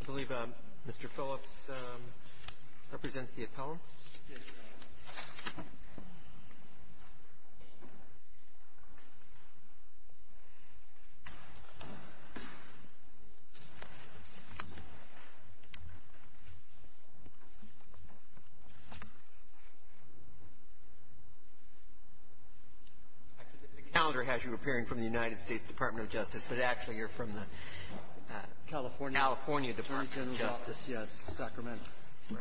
I believe Mr. Phillips represents the appellant. The calendar has you appearing from the United States Department of Justice, but actually you're from the California Department of Justice. Yes, Sacramento. Thank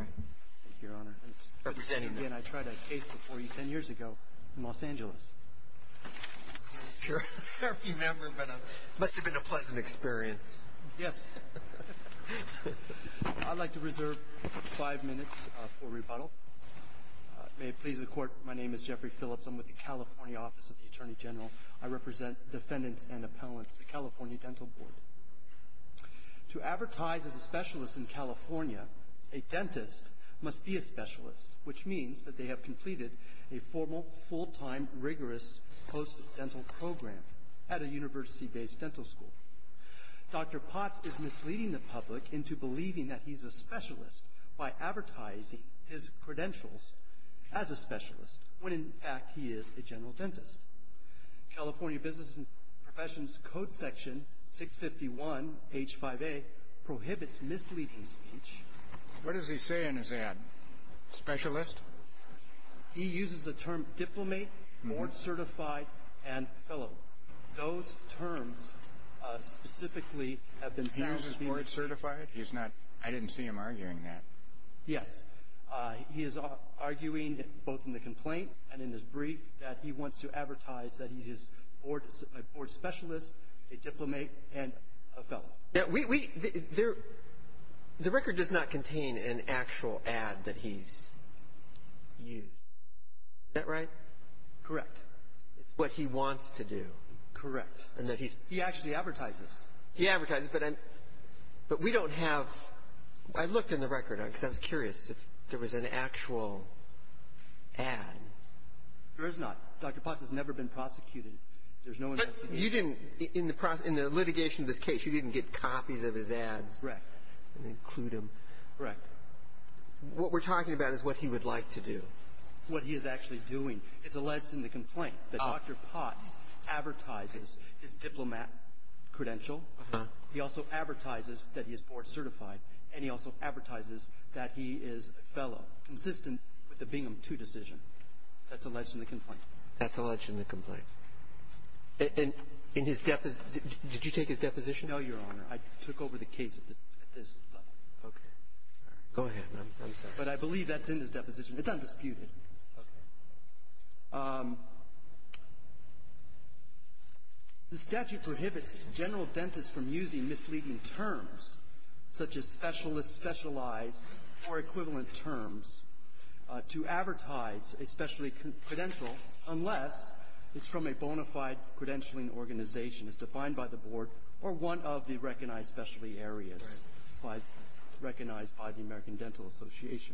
you, Your Honor. Representing the Again, I tried a case before you ten years ago in Los Angeles. I'm not sure if you remember, but it must have been a pleasant experience. Yes. I'd like to reserve five minutes for rebuttal. May it please the Court, my name is Jeffrey Phillips. I'm with the California Office of the Attorney General. I represent defendants and appellants at the California Dental Board. To advertise as a specialist in California, a dentist must be a specialist, which means that they have completed a formal, full-time, rigorous post-dental program at a university-based dental school. Dr. Potts is misleading the public into believing that he's a specialist by advertising his credentials as a specialist when, in fact, he is a general dentist. California Business and Professions Code Section 651H5A prohibits misleading speech. What does he say in his ad? Specialist? He uses the term diplomate, board certified, and fellow. Those terms specifically have been found to be misleading. He uses board certified? He's not. I didn't see him arguing that. Yes. He is arguing, both in the complaint and in his brief, that he wants to advertise that he's a board specialist, a diplomate, and a fellow. The record does not contain an actual ad that he's used. Is that right? Correct. It's what he wants to do. Correct. He actually advertises. He advertises, but we don't have – I looked in the record, because I was curious if there was an actual ad. There is not. Dr. Potts has never been prosecuted. There's no investigation. But you didn't – in the litigation of this case, you didn't get copies of his ads. Correct. And include them. Correct. What we're talking about is what he would like to do. What he is actually doing. It's alleged in the complaint that Dr. Potts advertises his diplomat credential. Uh-huh. He also advertises that he is board certified, and he also advertises that he is a fellow, consistent with the Bingham II decision. That's alleged in the complaint. That's alleged in the complaint. In his – did you take his deposition? No, Your Honor. I took over the case at this level. Okay. All right. Go ahead. I'm sorry. But I believe that's in his deposition. It's undisputed. Okay. The statute prohibits general dentists from using misleading terms, such as specialist, specialized, or equivalent terms, to advertise a specialty credential unless it's from a bona fide credentialing organization as defined by the board or one of the recognized specialty areas. Right. Recognized by the American Dental Association.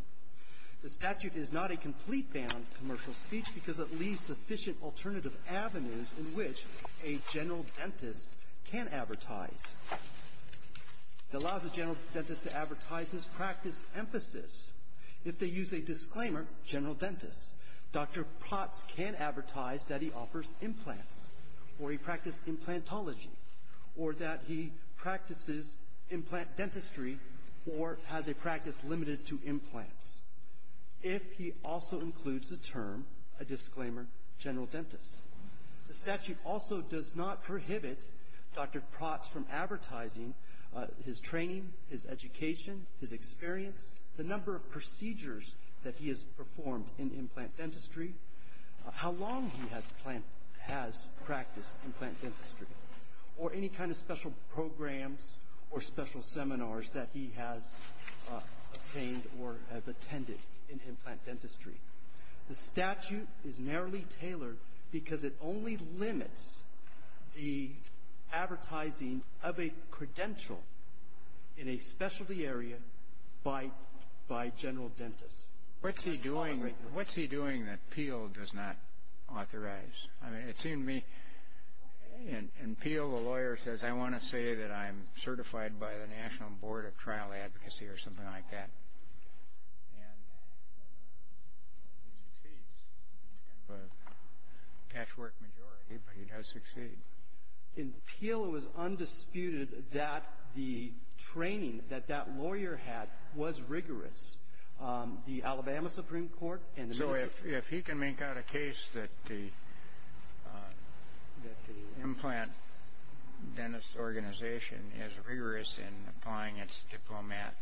The statute is not a complete ban on commercial speech because it leaves sufficient alternative avenues in which a general dentist can advertise. It allows a general dentist to advertise his practice emphasis. If they use a disclaimer, general dentist, Dr. Potts can advertise that he offers implants, or he practiced implantology, or that he practices implant dentistry, or has a practice limited to implants, if he also includes the term, a disclaimer, general dentist. The statute also does not prohibit Dr. Potts from advertising his training, his education, his experience, the number of procedures that he has performed in implant dentistry, how long he has practiced implant dentistry, or any kind of special programs or special seminars that he has obtained or have attended in implant dentistry. The statute is narrowly tailored because it only limits the advertising of a credential in a specialty area by general dentist. What's he doing? What's he doing that Peel does not authorize? I mean, it seemed to me, in Peel, the lawyer says, I want to say that I'm certified by the National Board of Trial Advocacy or something like that. And he succeeds. He's kind of a cash-work majority, but he does succeed. In Peel, it was undisputed that the training that that lawyer had was rigorous. The Alabama Supreme Court and the Minnesota — If he can make out a case that the implant dentist organization is rigorous in applying its diplomat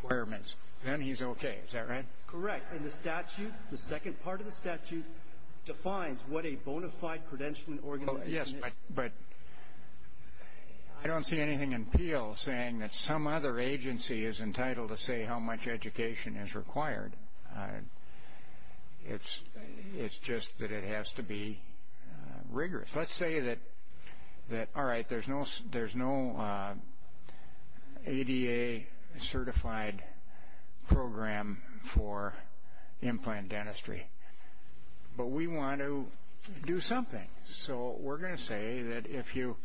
requirements, then he's okay. Is that right? Correct. And the statute, the second part of the statute, defines what a bona fide credentialing organization is. Yes, but I don't see anything in Peel saying that some other agency is entitled to say how much education is required. It's just that it has to be rigorous. Let's say that, all right, there's no ADA-certified program for implant dentistry, but we want to do something. So we're going to say that if you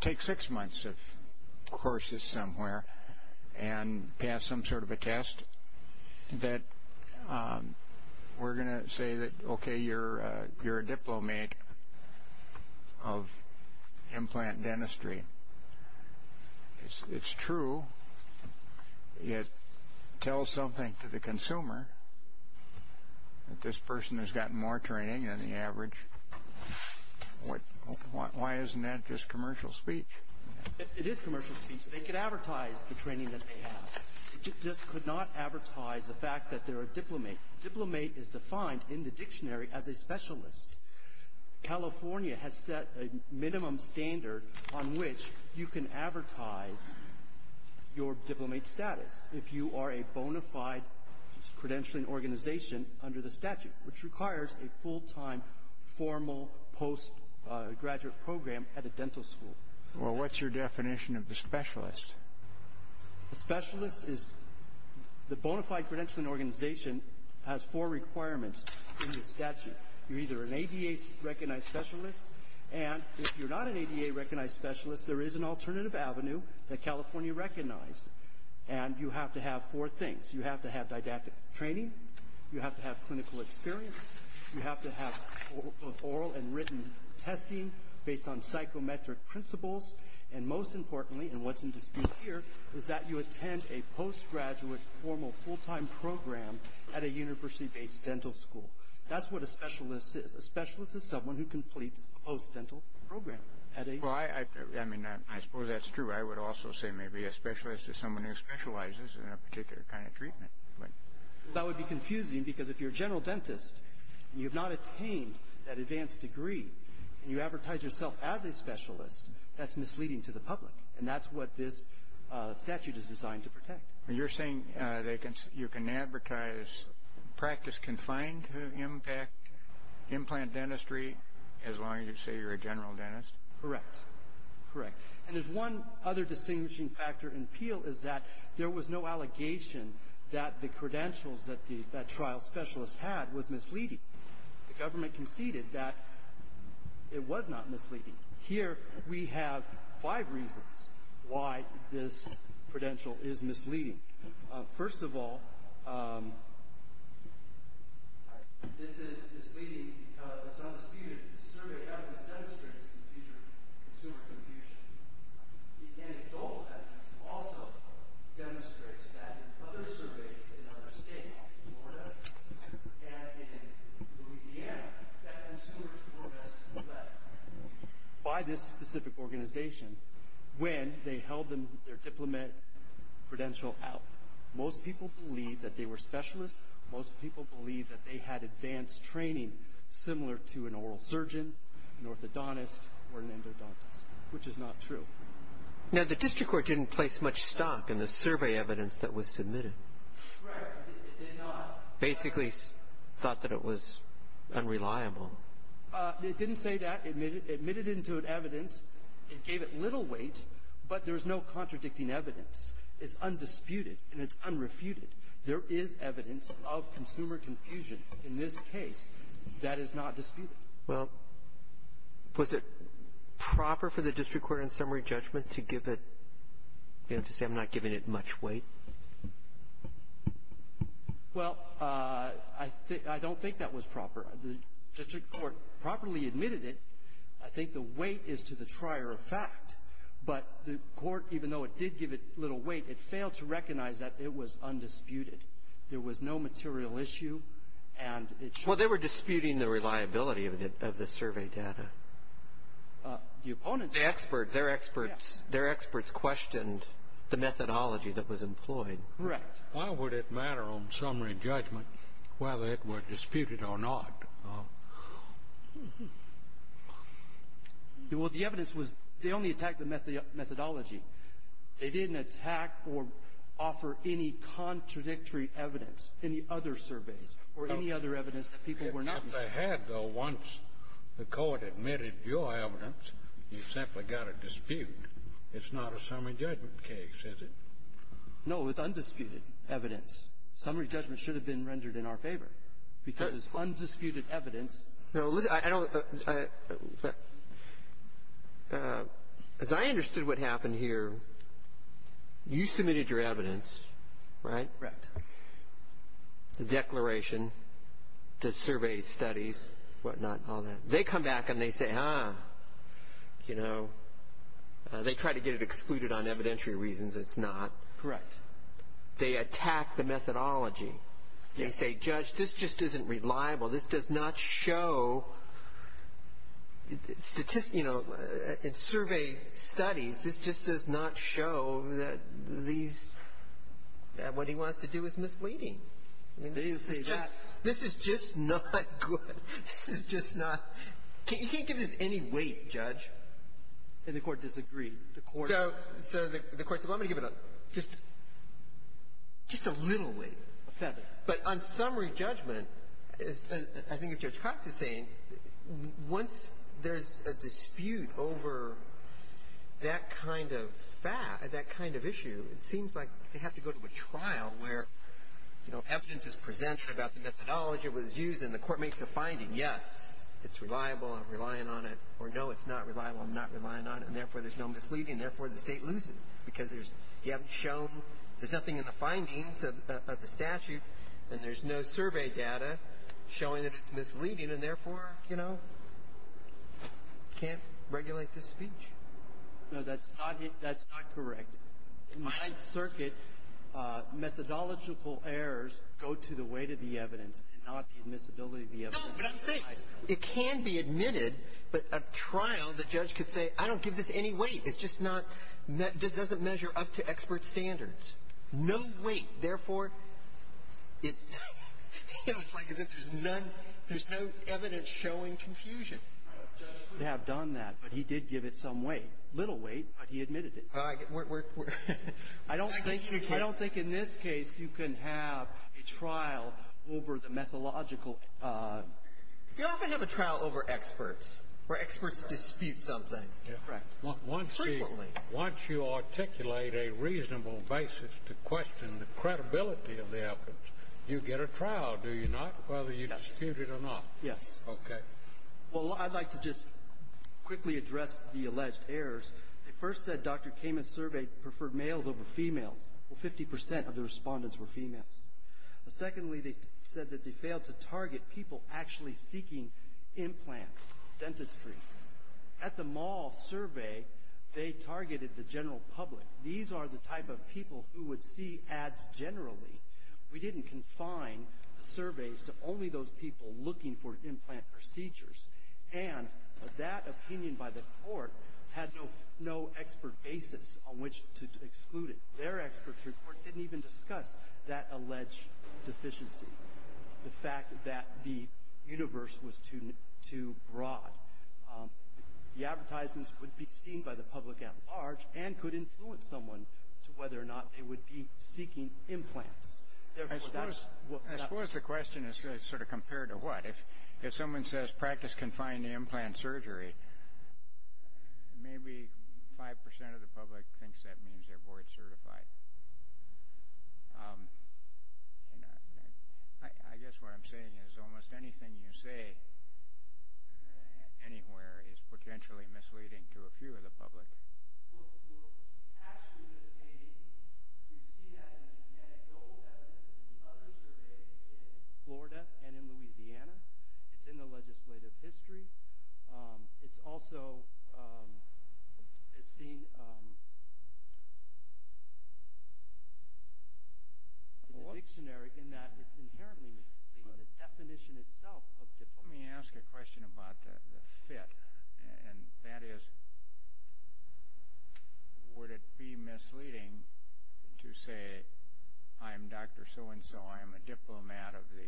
take six months of courses somewhere and pass some sort of a test, that we're going to say that, okay, you're a diplomat of implant dentistry. It's true. It tells something to the consumer that this person has gotten more training than the average. Why isn't that just commercial speech? It is commercial speech. They could advertise the training that they have. It just could not advertise the fact that they're a diplomat. Diplomat is defined in the dictionary as a specialist. California has set a minimum standard on which you can advertise your diplomate status if you are a bona fide credentialing organization under the statute, which requires a full-time formal postgraduate program at a dental school. Well, what's your definition of the specialist? The specialist is the bona fide credentialing organization has four requirements in the statute. You're either an ADA-recognized specialist, and if you're not an ADA-recognized specialist, there is an alternative avenue that California recognized. And you have to have four things. You have to have didactic training. You have to have clinical experience. You have to have oral and written testing based on psychometric principles. And most importantly, and what's in dispute here, is that you attend a postgraduate formal full-time program at a university-based dental school. That's what a specialist is. A specialist is someone who completes a post-dental program at a… Well, I mean, I suppose that's true. I would also say maybe a specialist is someone who specializes in a particular kind of treatment. That would be confusing because if you're a general dentist and you have not attained that advanced degree and you advertise yourself as a specialist, that's misleading to the public. And that's what this statute is designed to protect. You're saying you can advertise practice confined to implant dentistry as long as you say you're a general dentist? Correct. Correct. And there's one other distinguishing factor in Peel is that there was no allegation that the credentials that the trial specialist had was misleading. The government conceded that it was not misleading. Here, we have five reasons why this credential is misleading. First of all, this is misleading because it's undisputed that the survey evidence demonstrates a confusion in consumer confusion. The anecdotal evidence also demonstrates that in other surveys in other states, in organization, when they held their diplomat credential out, most people believed that they were specialists. Most people believed that they had advanced training similar to an oral surgeon, an orthodontist, or an endodontist, which is not true. Now, the district court didn't place much stock in the survey evidence that was submitted. Right. It did not. Basically thought that it was unreliable. It didn't say that. It admitted it into evidence. It gave it little weight, but there's no contradicting evidence. It's undisputed, and it's unrefuted. There is evidence of consumer confusion in this case that is not disputed. Well, was it proper for the district court in summary judgment to give it, you know, to say I'm not giving it much weight? Well, I don't think that was proper. The district court properly admitted it. I think the weight is to the trier of fact. But the court, even though it did give it little weight, it failed to recognize that it was undisputed. There was no material issue, and it's not unreliable. Well, they were disputing the reliability of the survey data. The opponents were. The experts. Their experts questioned the methodology that was employed. Correct. Why would it matter on summary judgment whether it were disputed or not? Well, the evidence was they only attacked the methodology. They didn't attack or offer any contradictory evidence, any other surveys or any other evidence that people were not using. If not, they had, though, once the court admitted your evidence, you simply got a dispute. It's not a summary judgment case, is it? No. It's undisputed evidence. Summary judgment should have been rendered in our favor because it's undisputed evidence. No, I don't. As I understood what happened here, you submitted your evidence, right? Correct. The declaration, the survey studies, whatnot, all that. They come back and they say, ah, you know, they try to get it excluded on evidentiary reasons. It's not. Correct. They attack the methodology. Yes. They say, Judge, this just isn't reliable. This does not show, you know, in survey studies, this just does not show that these what he wants to do is misleading. They didn't say that. This is just not good. This is just not. You can't give this any weight, Judge. And the Court disagreed. So the Court said, well, I'm going to give it just a little weight, a feather. But on summary judgment, as I think as Judge Cox is saying, once there's a dispute over that kind of fact, that kind of issue, it seems like they have to go to a trial where, you know, evidence is presented about the methodology that was used and the Court makes a finding, yes, it's reliable, I'm relying on it, or no, it's not reliable, I'm not relying on it, and therefore there's no misleading, and therefore the State loses because you haven't shown, there's nothing in the findings of the statute, and there's no survey data showing that it's misleading, and therefore, you know, you can't regulate this speech. No, that's not correct. In my circuit, methodological errors go to the weight of the evidence, not the admissibility of the evidence. No, but I'm saying it can be admitted, but a trial, the judge could say, I don't give this any weight. It's just not, it doesn't measure up to expert standards. No weight. Therefore, it's like as if there's none, there's no evidence showing confusion. The judge could have done that, but he did give it some weight, a little weight, but he admitted it. I don't think in this case you can have a trial over the methodological, you often have a trial over experts, where experts dispute something. Correct. Frequently. Once you articulate a reasonable basis to question the credibility of the evidence, you get a trial, do you not, whether you dispute it or not? Yes. Okay. Well, I'd like to just quickly address the alleged errors. They first said Dr. Kamen's survey preferred males over females. Well, 50% of the respondents were females. Secondly, they said that they failed to target people actually seeking implants, dentistry. At the mall survey, they targeted the general public. These are the type of people who would see ads generally. We didn't confine the surveys to only those people looking for implant procedures, and that opinion by the court had no expert basis on which to exclude it. Their experts report didn't even discuss that alleged deficiency, the fact that the universe was too broad. The advertisements would be seen by the public at large and could influence someone to whether or not they would be seeking implants. I suppose the question is sort of compared to what? If someone says practice confined to implant surgery, maybe 5% of the public thinks that means they're board certified. I guess what I'm saying is almost anything you say anywhere is potentially misleading to a few of the public. Well, actually it is misleading. You see that in the genetic global evidence and other surveys in Florida and in Louisiana. It's in the legislative history. It's also seen in the dictionary in that it's inherently misleading. Let me ask a question about the fit, and that is would it be misleading to say I'm Dr. So-and-so, I'm a diplomat of the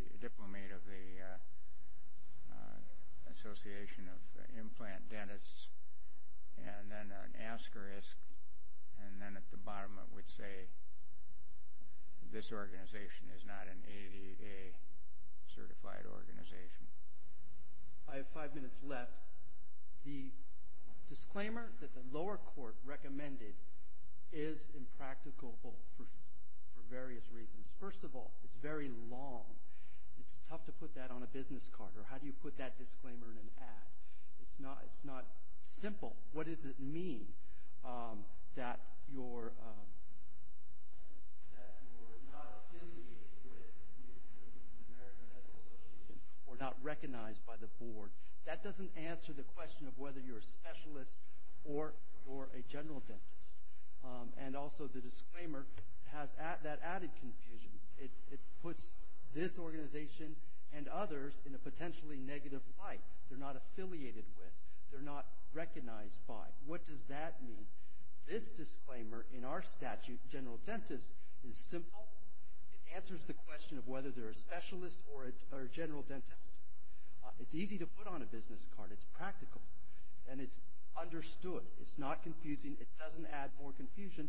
Association of Implant Dentists, and then an asterisk, and then at the bottom it would say this organization is not an ADA certified organization. I have five minutes left. The disclaimer that the lower court recommended is impractical for various reasons. First of all, it's very long. It's tough to put that on a business card, or how do you put that disclaimer in an ad? It's not simple. What does it mean that you're not affiliated with the American Dental Association or not recognized by the board? That doesn't answer the question of whether you're a specialist or a general dentist. And also the disclaimer has that added confusion. It puts this organization and others in a potentially negative light. They're not affiliated with. They're not recognized by. What does that mean? This disclaimer in our statute, general dentist, is simple. It answers the question of whether they're a specialist or a general dentist. It's easy to put on a business card. It's practical, and it's understood. It's not confusing. It doesn't add more confusion,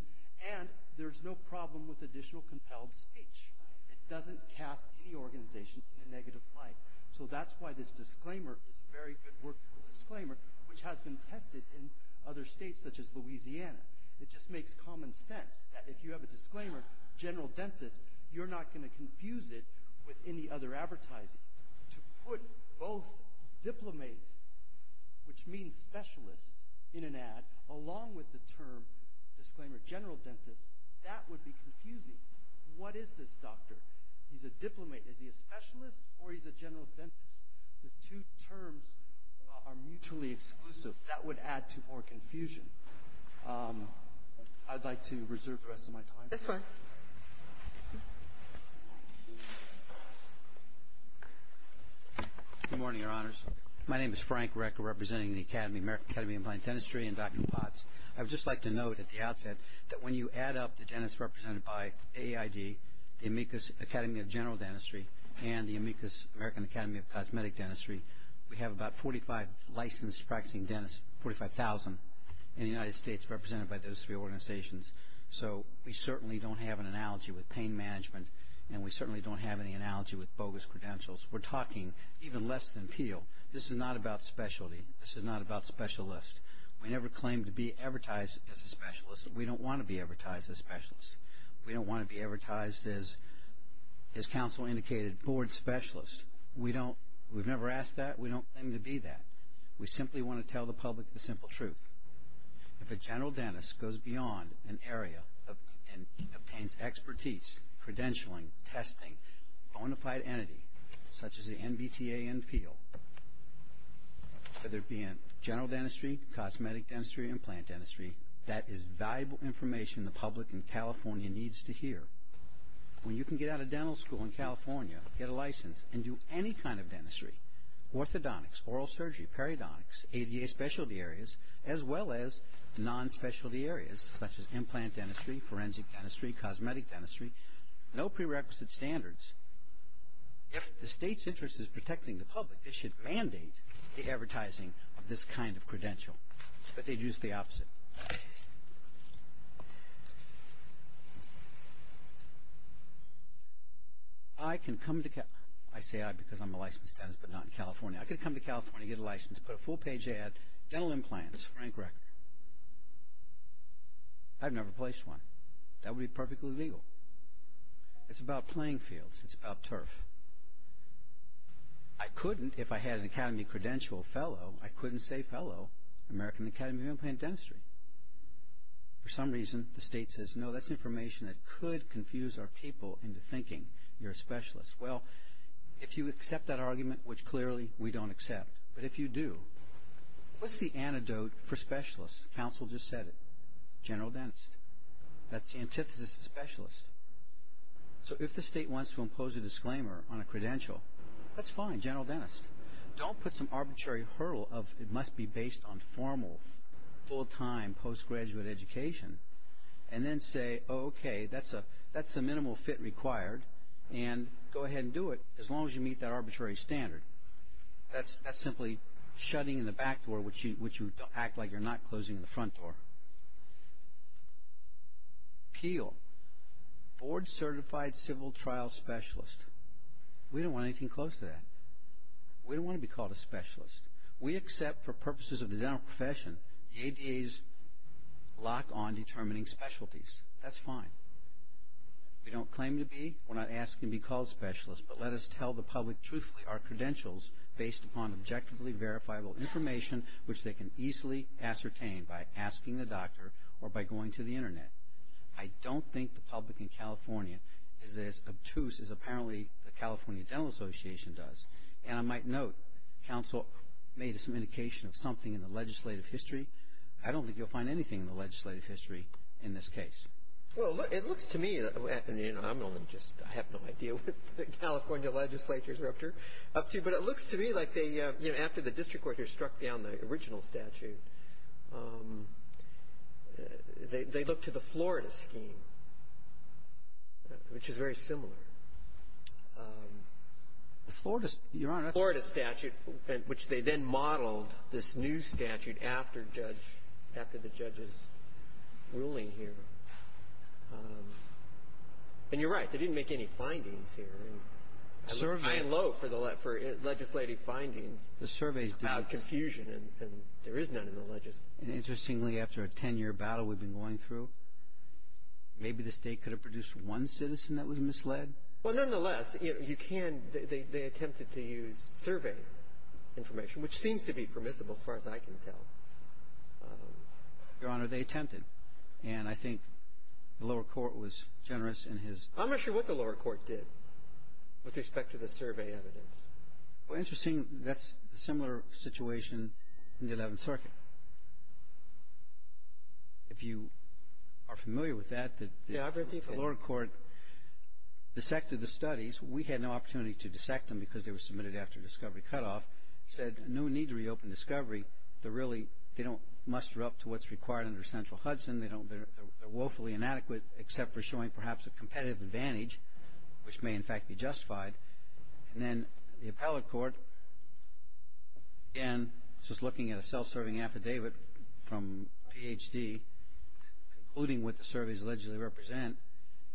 and there's no problem with additional compelled speech. It doesn't cast any organization in a negative light. So that's why this disclaimer is a very good workable disclaimer, which has been tested in other states such as Louisiana. It just makes common sense that if you have a disclaimer, general dentist, you're not going to confuse it with any other advertising. To put both diplomate, which means specialist, in an ad, along with the term disclaimer general dentist, that would be confusing. What is this doctor? He's a diplomate. Is he a specialist, or he's a general dentist? The two terms are mutually exclusive. That would add to more confusion. I'd like to reserve the rest of my time. This one. Good morning, Your Honors. My name is Frank Rick representing the American Academy of Applied Dentistry and Dr. Potts. I would just like to note at the outset that when you add up the dentists represented by AID, the Amicus Academy of General Dentistry, and the Amicus American Academy of Cosmetic Dentistry, we have about 45 licensed practicing dentists, 45,000, in the United States represented by those three organizations. So we certainly don't have an analogy with pain management, and we certainly don't have any analogy with bogus credentials. We're talking even less than peel. This is not about specialty. This is not about specialist. We don't want to be advertised as specialists. We don't want to be advertised as, as counsel indicated, board specialists. We've never asked that. We don't claim to be that. We simply want to tell the public the simple truth. If a general dentist goes beyond an area and obtains expertise, credentialing, testing, a bona fide entity such as the NBTA and peel, whether it be in general dentistry, cosmetic dentistry, implant dentistry, that is valuable information the public in California needs to hear. When you can get out of dental school in California, get a license, and do any kind of dentistry, orthodontics, oral surgery, peridontics, ADA specialty areas, as well as non-specialty areas, such as implant dentistry, forensic dentistry, cosmetic dentistry, no prerequisite standards, if the state's interest is protecting the public, it should mandate the advertising of this kind of credential. I bet they'd use the opposite. I can come to California. I say I because I'm a licensed dentist, but not in California. I could come to California, get a license, put a full page ad, dental implants, Frank Reckner. I've never placed one. That would be perfectly legal. It's about playing fields. It's about turf. I couldn't, if I had an academy credential fellow, I couldn't say fellow American Academy of Implant Dentistry. For some reason, the state says, no, that's information that could confuse our people into thinking you're a specialist. Well, if you accept that argument, which clearly we don't accept, but if you do, what's the antidote for specialist? Counsel just said it, general dentist. That's the antithesis of specialist. So if the state wants to impose a disclaimer on a credential, that's fine, general dentist. Don't put some arbitrary hurdle of it must be based on formal, full-time, post-graduate education, and then say, okay, that's the minimal fit required, and go ahead and do it as long as you meet that arbitrary standard. That's simply shutting in the back door, which you act like you're not closing the front door. Peel, board-certified civil trial specialist. We don't want anything close to that. We don't want to be called a specialist. We accept for purposes of the dental profession, the ADA's lock on determining specialties. That's fine. We don't claim to be, we're not asking to be called specialists, but let us tell the public truthfully our credentials based upon objectively verifiable information, which they can easily ascertain by asking the doctor or by going to the Internet. I don't think the public in California is as obtuse as apparently the California Dental Association does. And I might note, counsel made some indication of something in the legislative history. I don't think you'll find anything in the legislative history in this case. Well, it looks to me, and I'm only just, I have no idea what the California legislatures are up to, but it looks to me like they, you know, after the district court struck down the original statute, they looked to the Florida scheme, which is very similar. The Florida statute, which they then modeled this new statute after judge, after the judge's ruling here. And you're right. They didn't make any findings here. I'm low for legislative findings about confusion, and there is none in the legislature. And interestingly, after a ten-year battle we've been going through, maybe the state could have produced one citizen that was misled. Well, nonetheless, you can, they attempted to use survey information, which seems to be permissible as far as I can tell. Your Honor, they attempted. And I think the lower court was generous in his... I'm not sure what the lower court did with respect to the survey evidence. Well, interesting, that's a similar situation in the Eleventh Circuit. If you are familiar with that... Yeah, I've been thinking... The lower court dissected the studies. We had no opportunity to dissect them because they were submitted after discovery cutoff. Said no need to reopen discovery. They're really, they don't muster up to what's required under central Hudson. They're woefully inadequate except for showing perhaps a competitive advantage, which may in fact be justified. And then the appellate court, again, just looking at a self-serving affidavit from Ph.D., including what the surveys allegedly represent,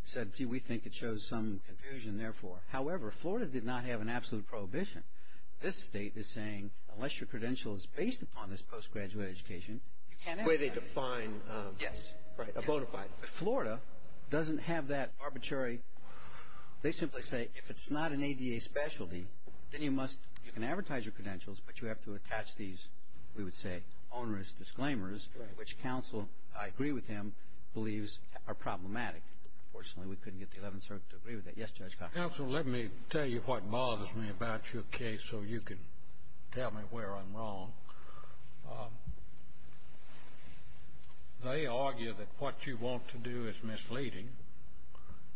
said, gee, we think it shows some confusion, therefore. However, Florida did not have an absolute prohibition. This state is saying, unless your credential is based upon this postgraduate education... The way they define... Yes. Right, a bona fide. Florida doesn't have that arbitrary... If it's not an ADA specialty, then you must, you can advertise your credentials, but you have to attach these, we would say, onerous disclaimers... Right.... which counsel, I agree with him, believes are problematic. Unfortunately, we couldn't get the Eleventh Circuit to agree with that. Yes, Judge Cox. Counsel, let me tell you what bothers me about your case so you can tell me where I'm wrong. They argue that what you want to do is misleading.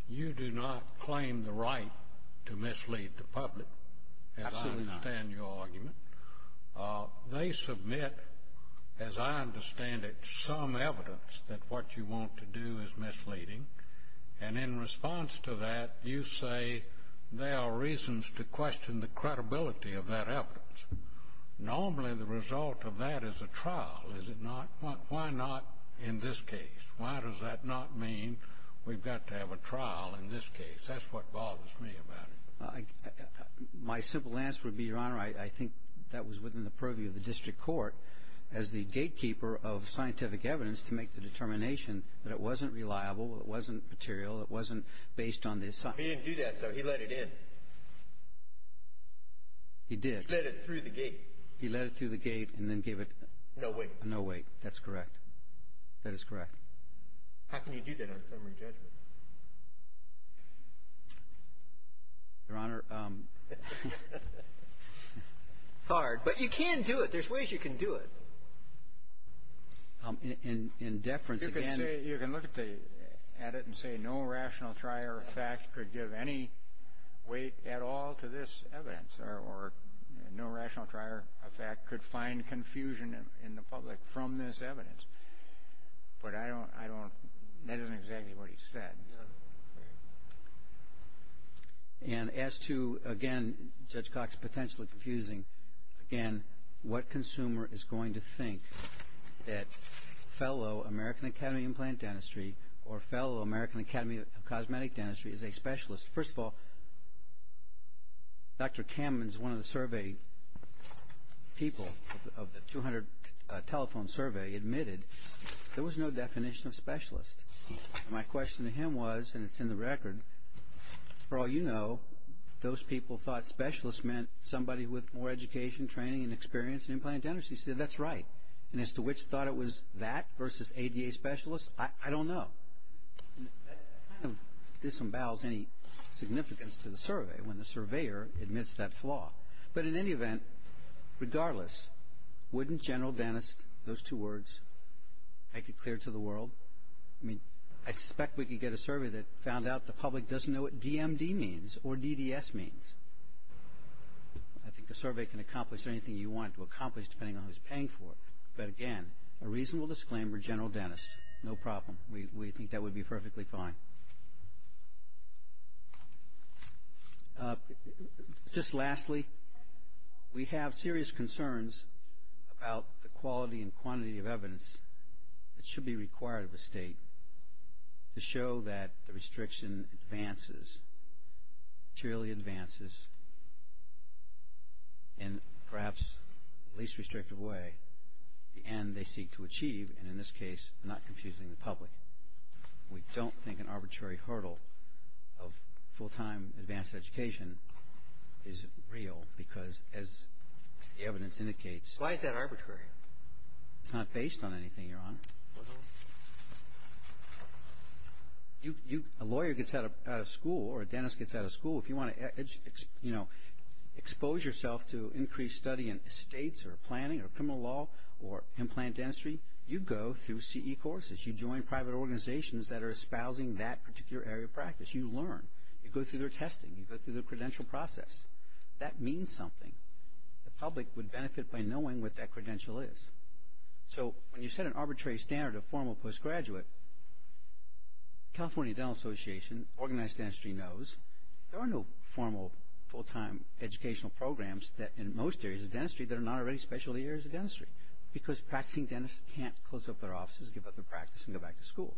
You do not claim the right to mislead the public. Absolutely not. As I understand your argument. They submit, as I understand it, some evidence that what you want to do is misleading. And in response to that, you say there are reasons to question the credibility of that evidence. Normally, the result of that is a trial, is it not? Why not in this case? Why does that not mean we've got to have a trial in this case? That's what bothers me about it. My simple answer would be, Your Honor, I think that was within the purview of the district court as the gatekeeper of scientific evidence to make the determination that it wasn't reliable, it wasn't material, it wasn't based on the... He didn't do that, though. He let it in. He did. He let it through the gate. He let it through the gate and then gave it... No weight. No weight. That's correct. That is correct. How can you do that on summary judgment? Your Honor... It's hard. But you can do it. There's ways you can do it. In deference, again... You can say... You can look at the... at it and say no rational trier of fact could give any weight at all to this evidence or no rational trier of fact could find confusion in the public from this evidence. But I don't... That isn't exactly what he said. And as to, again, Judge Cox, potentially confusing, again, what consumer is going to think that fellow American Academy of Implant Dentistry or fellow American Academy of Cosmetic Dentistry is a specialist? First of all, Dr. Kamens, one of the survey people of the 200 telephone survey, admitted there was no definition of specialist. My question to him was, and it's in the record, for all you know, those people thought specialist meant somebody with more education, training, and experience in implant dentistry. He said that's right. And as to which thought it was that versus ADA specialist, I don't know. That kind of disembowels any significance to the survey when the surveyor admits that flaw. But in any event, regardless, wouldn't General Dentist, those two words, make it clear to the world? I mean, I suspect we could get a survey that found out the public doesn't know what DMD means or DDS means. I think a survey can accomplish anything you want it to accomplish depending on who's paying for it. But again, a reasonable disclaimer, General Dentist, no problem. We think that would be perfectly fine. Just lastly, we have serious concerns about the quality and quantity of evidence that should be required of a state to show that the restriction advances, truly advances, in perhaps the least restrictive way, the end they seek to achieve, and in this case, not confusing the public. We don't think an arbitrary hurdle of full-time advanced education is real because as the evidence indicates. Why is that arbitrary? It's not based on anything, Your Honor. A lawyer gets out of school or a dentist gets out of school. If you want to expose yourself to increased study in estates or planning or criminal law or implant dentistry, you go through CE courses. You join private organizations that are espousing that particular area of practice. You learn. You go through their testing. You go through their credential process. That means something. The public would benefit by knowing what that credential is. So when you set an arbitrary standard of formal postgraduate, California Dental Association, and organized dentistry knows, there are no formal, full-time educational programs that in most areas of dentistry that are not already specialty areas of dentistry because practicing dentists can't close up their offices, give up their practice, and go back to school.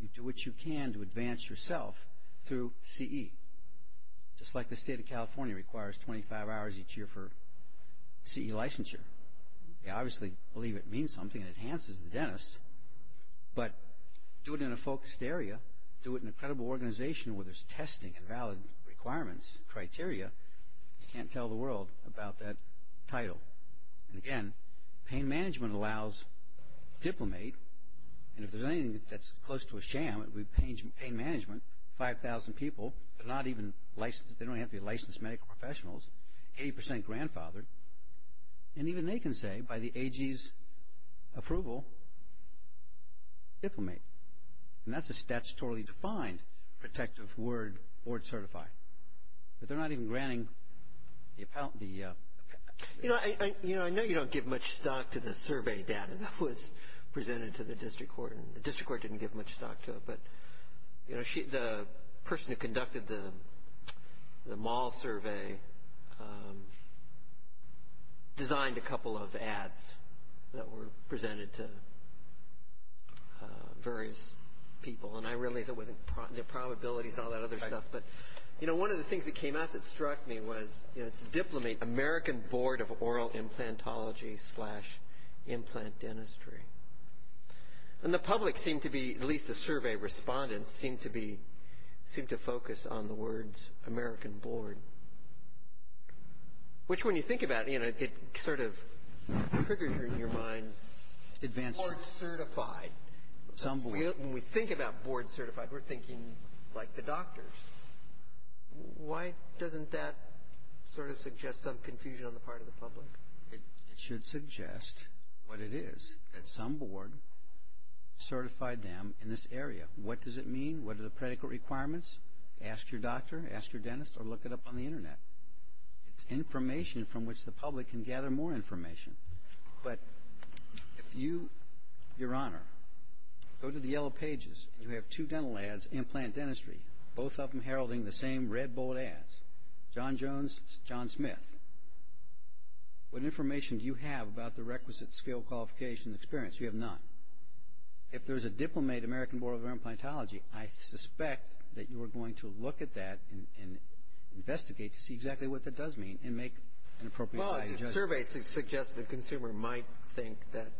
You do what you can to advance yourself through CE. Just like the state of California requires 25 hours each year for CE licensure. They obviously believe it means something, it enhances the dentist, but do it in a focused area. Do it in a credible organization where there's testing and valid requirements and criteria. You can't tell the world about that title. And again, pain management allows diplomate, and if there's anything that's close to a sham, it would be pain management, 5,000 people, but they don't have to be licensed medical professionals, 80% grandfathered, and even they can say by the AG's approval, diplomate. And that's a statutorily defined protective word, board certified. But they're not even granting the appellate. You know, I know you don't give much stock to the survey data that was presented to the district court, and the district court didn't give much stock to it, but, you know, the person who conducted the mall survey designed a couple of ads that were presented to various people, and I realize it wasn't the probabilities and all that other stuff, but, you know, one of the things that came out that struck me was, you know, it's diplomate, American Board of Oral Implantology slash Implant Dentistry. And the public seemed to be, at least the survey respondents, seemed to be, seemed to focus on the words American Board, which when you think about it, you know, it sort of triggers in your mind board certified. When we think about board certified, we're thinking like the doctors. Why doesn't that sort of suggest some confusion on the part of the public? It should suggest what it is, that some board certified them in this area. What does it mean? What are the predicate requirements? Ask your doctor, ask your dentist, or look it up on the Internet. It's information from which the public can gather more information. But if you, Your Honor, go to the yellow pages, and you have two dental ads, Implant Dentistry, both of them heralding the same red bold ads, John Jones, John Smith, what information do you have about the requisite skill qualification experience? You have none. If there's a diplomate American Board of Oral Implantology, I suspect that you are going to look at that and investigate to see exactly what that does mean and make an appropriate judgment. The survey suggests the consumer might think that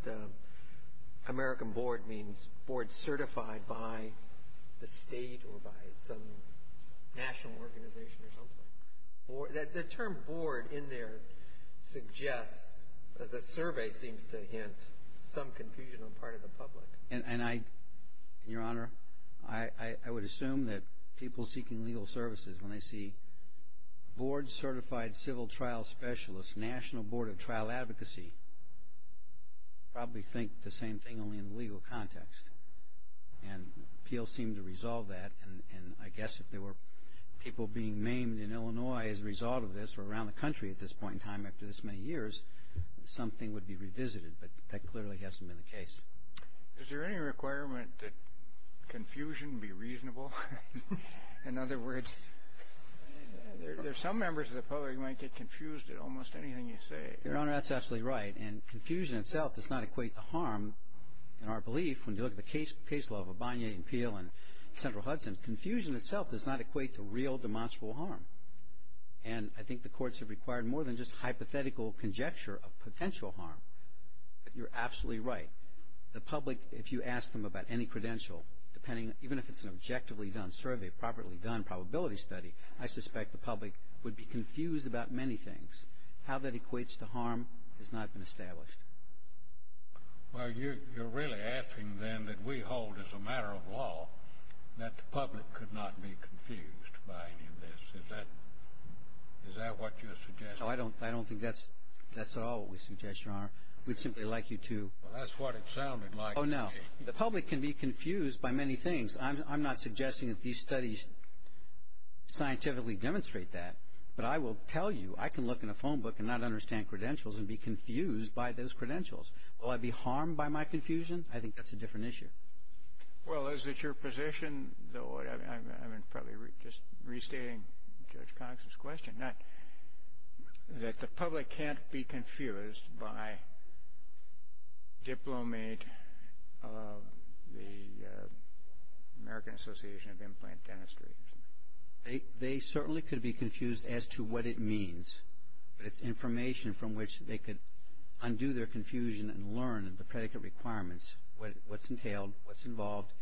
American board means board certified by the state or by some national organization or something. The term board in there suggests, as the survey seems to hint, some confusion on the part of the public. And I, Your Honor, I would assume that people seeking legal services, when they see board certified civil trial specialist, National Board of Trial Advocacy, probably think the same thing only in the legal context. And appeals seem to resolve that. And I guess if there were people being maimed in Illinois as a result of this or around the country at this point in time after this many years, something would be revisited. But that clearly hasn't been the case. Is there any requirement that confusion be reasonable? In other words, there's some members of the public who might get confused at almost anything you say. Your Honor, that's absolutely right. And confusion itself does not equate to harm. In our belief, when you look at the case law of Abani and Peel and Central Hudson, confusion itself does not equate to real demonstrable harm. And I think the courts have required more than just hypothetical conjecture of potential harm. You're absolutely right. The public, if you ask them about any credential, even if it's an objectively done survey, properly done probability study, I suspect the public would be confused about many things. How that equates to harm has not been established. Well, you're really asking then that we hold as a matter of law that the public could not be confused by any of this. Is that what you're suggesting? No, I don't think that's at all what we suggest, Your Honor. We'd simply like you to. Well, that's what it sounded like to me. Oh, no. The public can be confused by many things. I'm not suggesting that these studies scientifically demonstrate that, but I will tell you I can look in a phone book and not understand credentials and be confused by those credentials. Will I be harmed by my confusion? I think that's a different issue. Well, is it your position, though I'm probably just restating Judge Cox's question, that the public can't be confused by diplomate of the American Association of Implant Dentistry? They certainly could be confused as to what it means, but it's information from which they could undo their confusion and learn the predicate requirements, what's entailed, what's involved,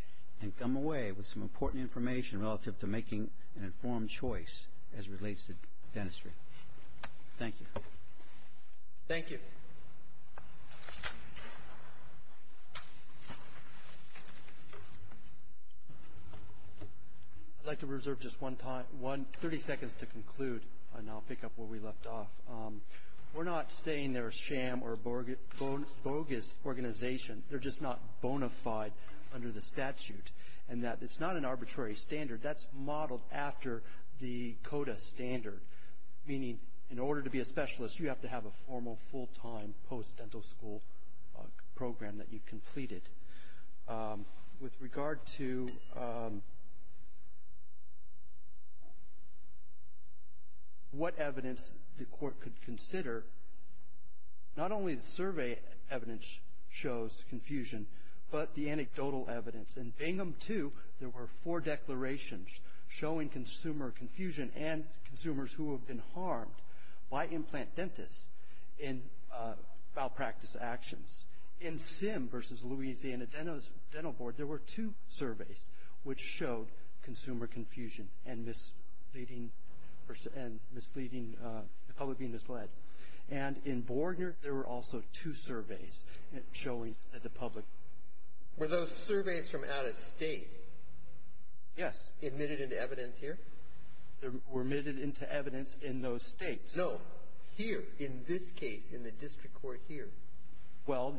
and come away with some important information relative to making an informed choice as it relates to dentistry. Thank you. Thank you. I'd like to reserve just 30 seconds to conclude, and I'll pick up where we left off. We're not saying they're a sham or a bogus organization. They're just not bona fide under the statute in that it's not an arbitrary standard. That's modeled after the CODA standard, meaning in order to be a specialist, you have to have a formal full-time post-dental school program that you've completed. With regard to what evidence the court could consider, not only the survey evidence shows confusion, but the anecdotal evidence. In Bingham 2, there were four declarations showing consumer confusion and consumers who have been harmed by implant dentists in malpractice actions. In Sim v. Louisiana Dental Board, there were two surveys which showed consumer confusion and misleading, the public being misled. And in Borgner, there were also two surveys showing that the public. Were those surveys from out of state? Yes. Admitted into evidence here? They were admitted into evidence in those states. No, here, in this case, in the district court here. Well,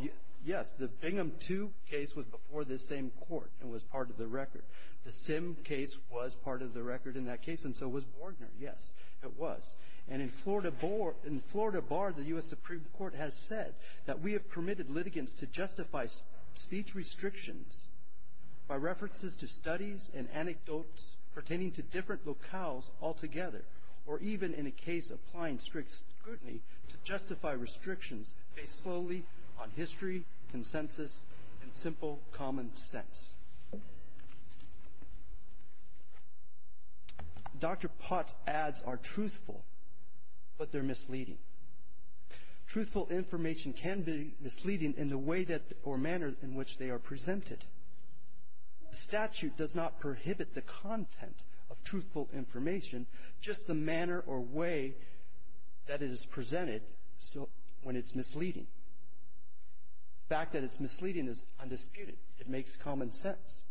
yes. The Bingham 2 case was before this same court and was part of the record. The Sim case was part of the record in that case, and so was Borgner. Yes, it was. And in Florida Bar, the U.S. Supreme Court has said that we have permitted litigants to justify speech restrictions by references to studies and anecdotes pertaining to different locales altogether, or even in a case applying strict scrutiny, to justify restrictions based solely on history, consensus, and simple common sense. Dr. Pott's ads are truthful, but they're misleading. Truthful information can be misleading in the way or manner in which they are presented. The statute does not prohibit the content of truthful information, just the manner or way that it is presented when it's misleading. The fact that it's misleading is undisputed. It makes common sense.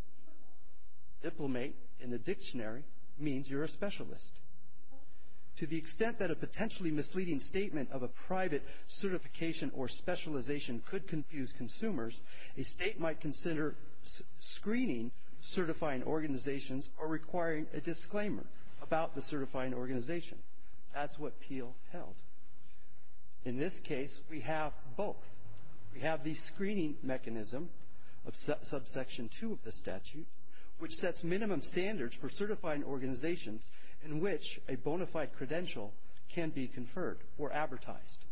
Diplomate in the dictionary means you're a specialist. To the extent that a potentially misleading statement of a private certification or specialization could confuse consumers, a state might consider screening certifying organizations or requiring a disclaimer about the certifying organization. That's what Peale held. In this case, we have both. We have the screening mechanism of subsection 2 of the statute, which sets minimum standards for certifying organizations in which a bona fide credential can be conferred or advertised.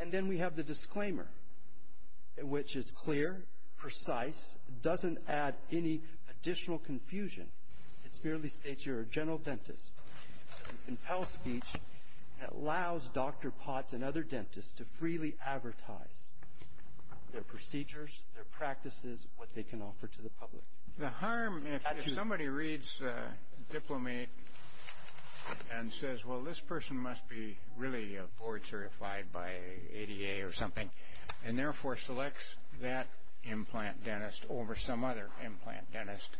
And then we have the disclaimer, which is clear, precise, doesn't add any additional confusion. It merely states you're a general dentist. In Peale's speech, it allows Dr. Potts and other dentists to freely advertise their procedures, their practices, what they can offer to the public. The harm if somebody reads Diplomate and says, well, this person must be really board certified by ADA or something, and therefore selects that implant dentist over some other implant dentist.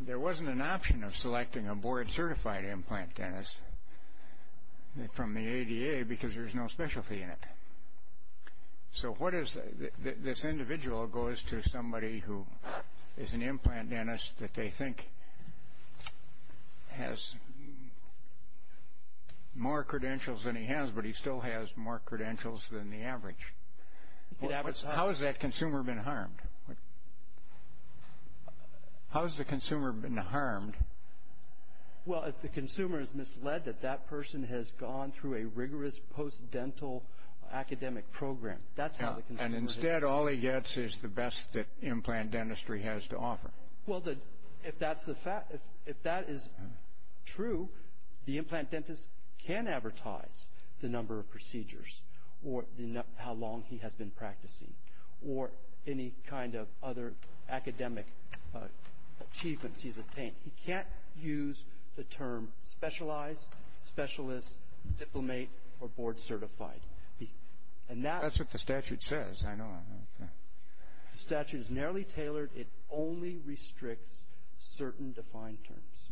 There wasn't an option of selecting a board certified implant dentist from the ADA because there's no specialty in it. So this individual goes to somebody who is an implant dentist that they think has more credentials than he has, but he still has more credentials than the average. How has that consumer been harmed? How has the consumer been harmed? Well, if the consumer is misled that that person has gone through a rigorous post-dental academic program. And instead, all he gets is the best that implant dentistry has to offer. Well, if that's the fact, if that is true, the implant dentist can advertise the number of procedures or how long he has been practicing or any kind of other academic achievements he's attained. He can't use the term specialized, specialist, diplomate, or board certified. And that's what the statute says. I know. The statute is narrowly tailored. It only restricts certain defined terms.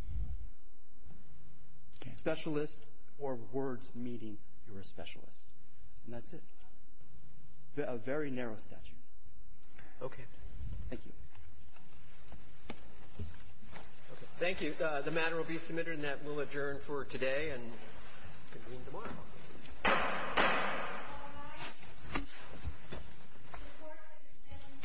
Specialist or words meaning you're a specialist. And that's it. A very narrow statute. Okay. Thank you. Thank you. The matter will be submitted, and that will adjourn for today and convene tomorrow. Goodbye. The court is in session. Thank you. Thank you.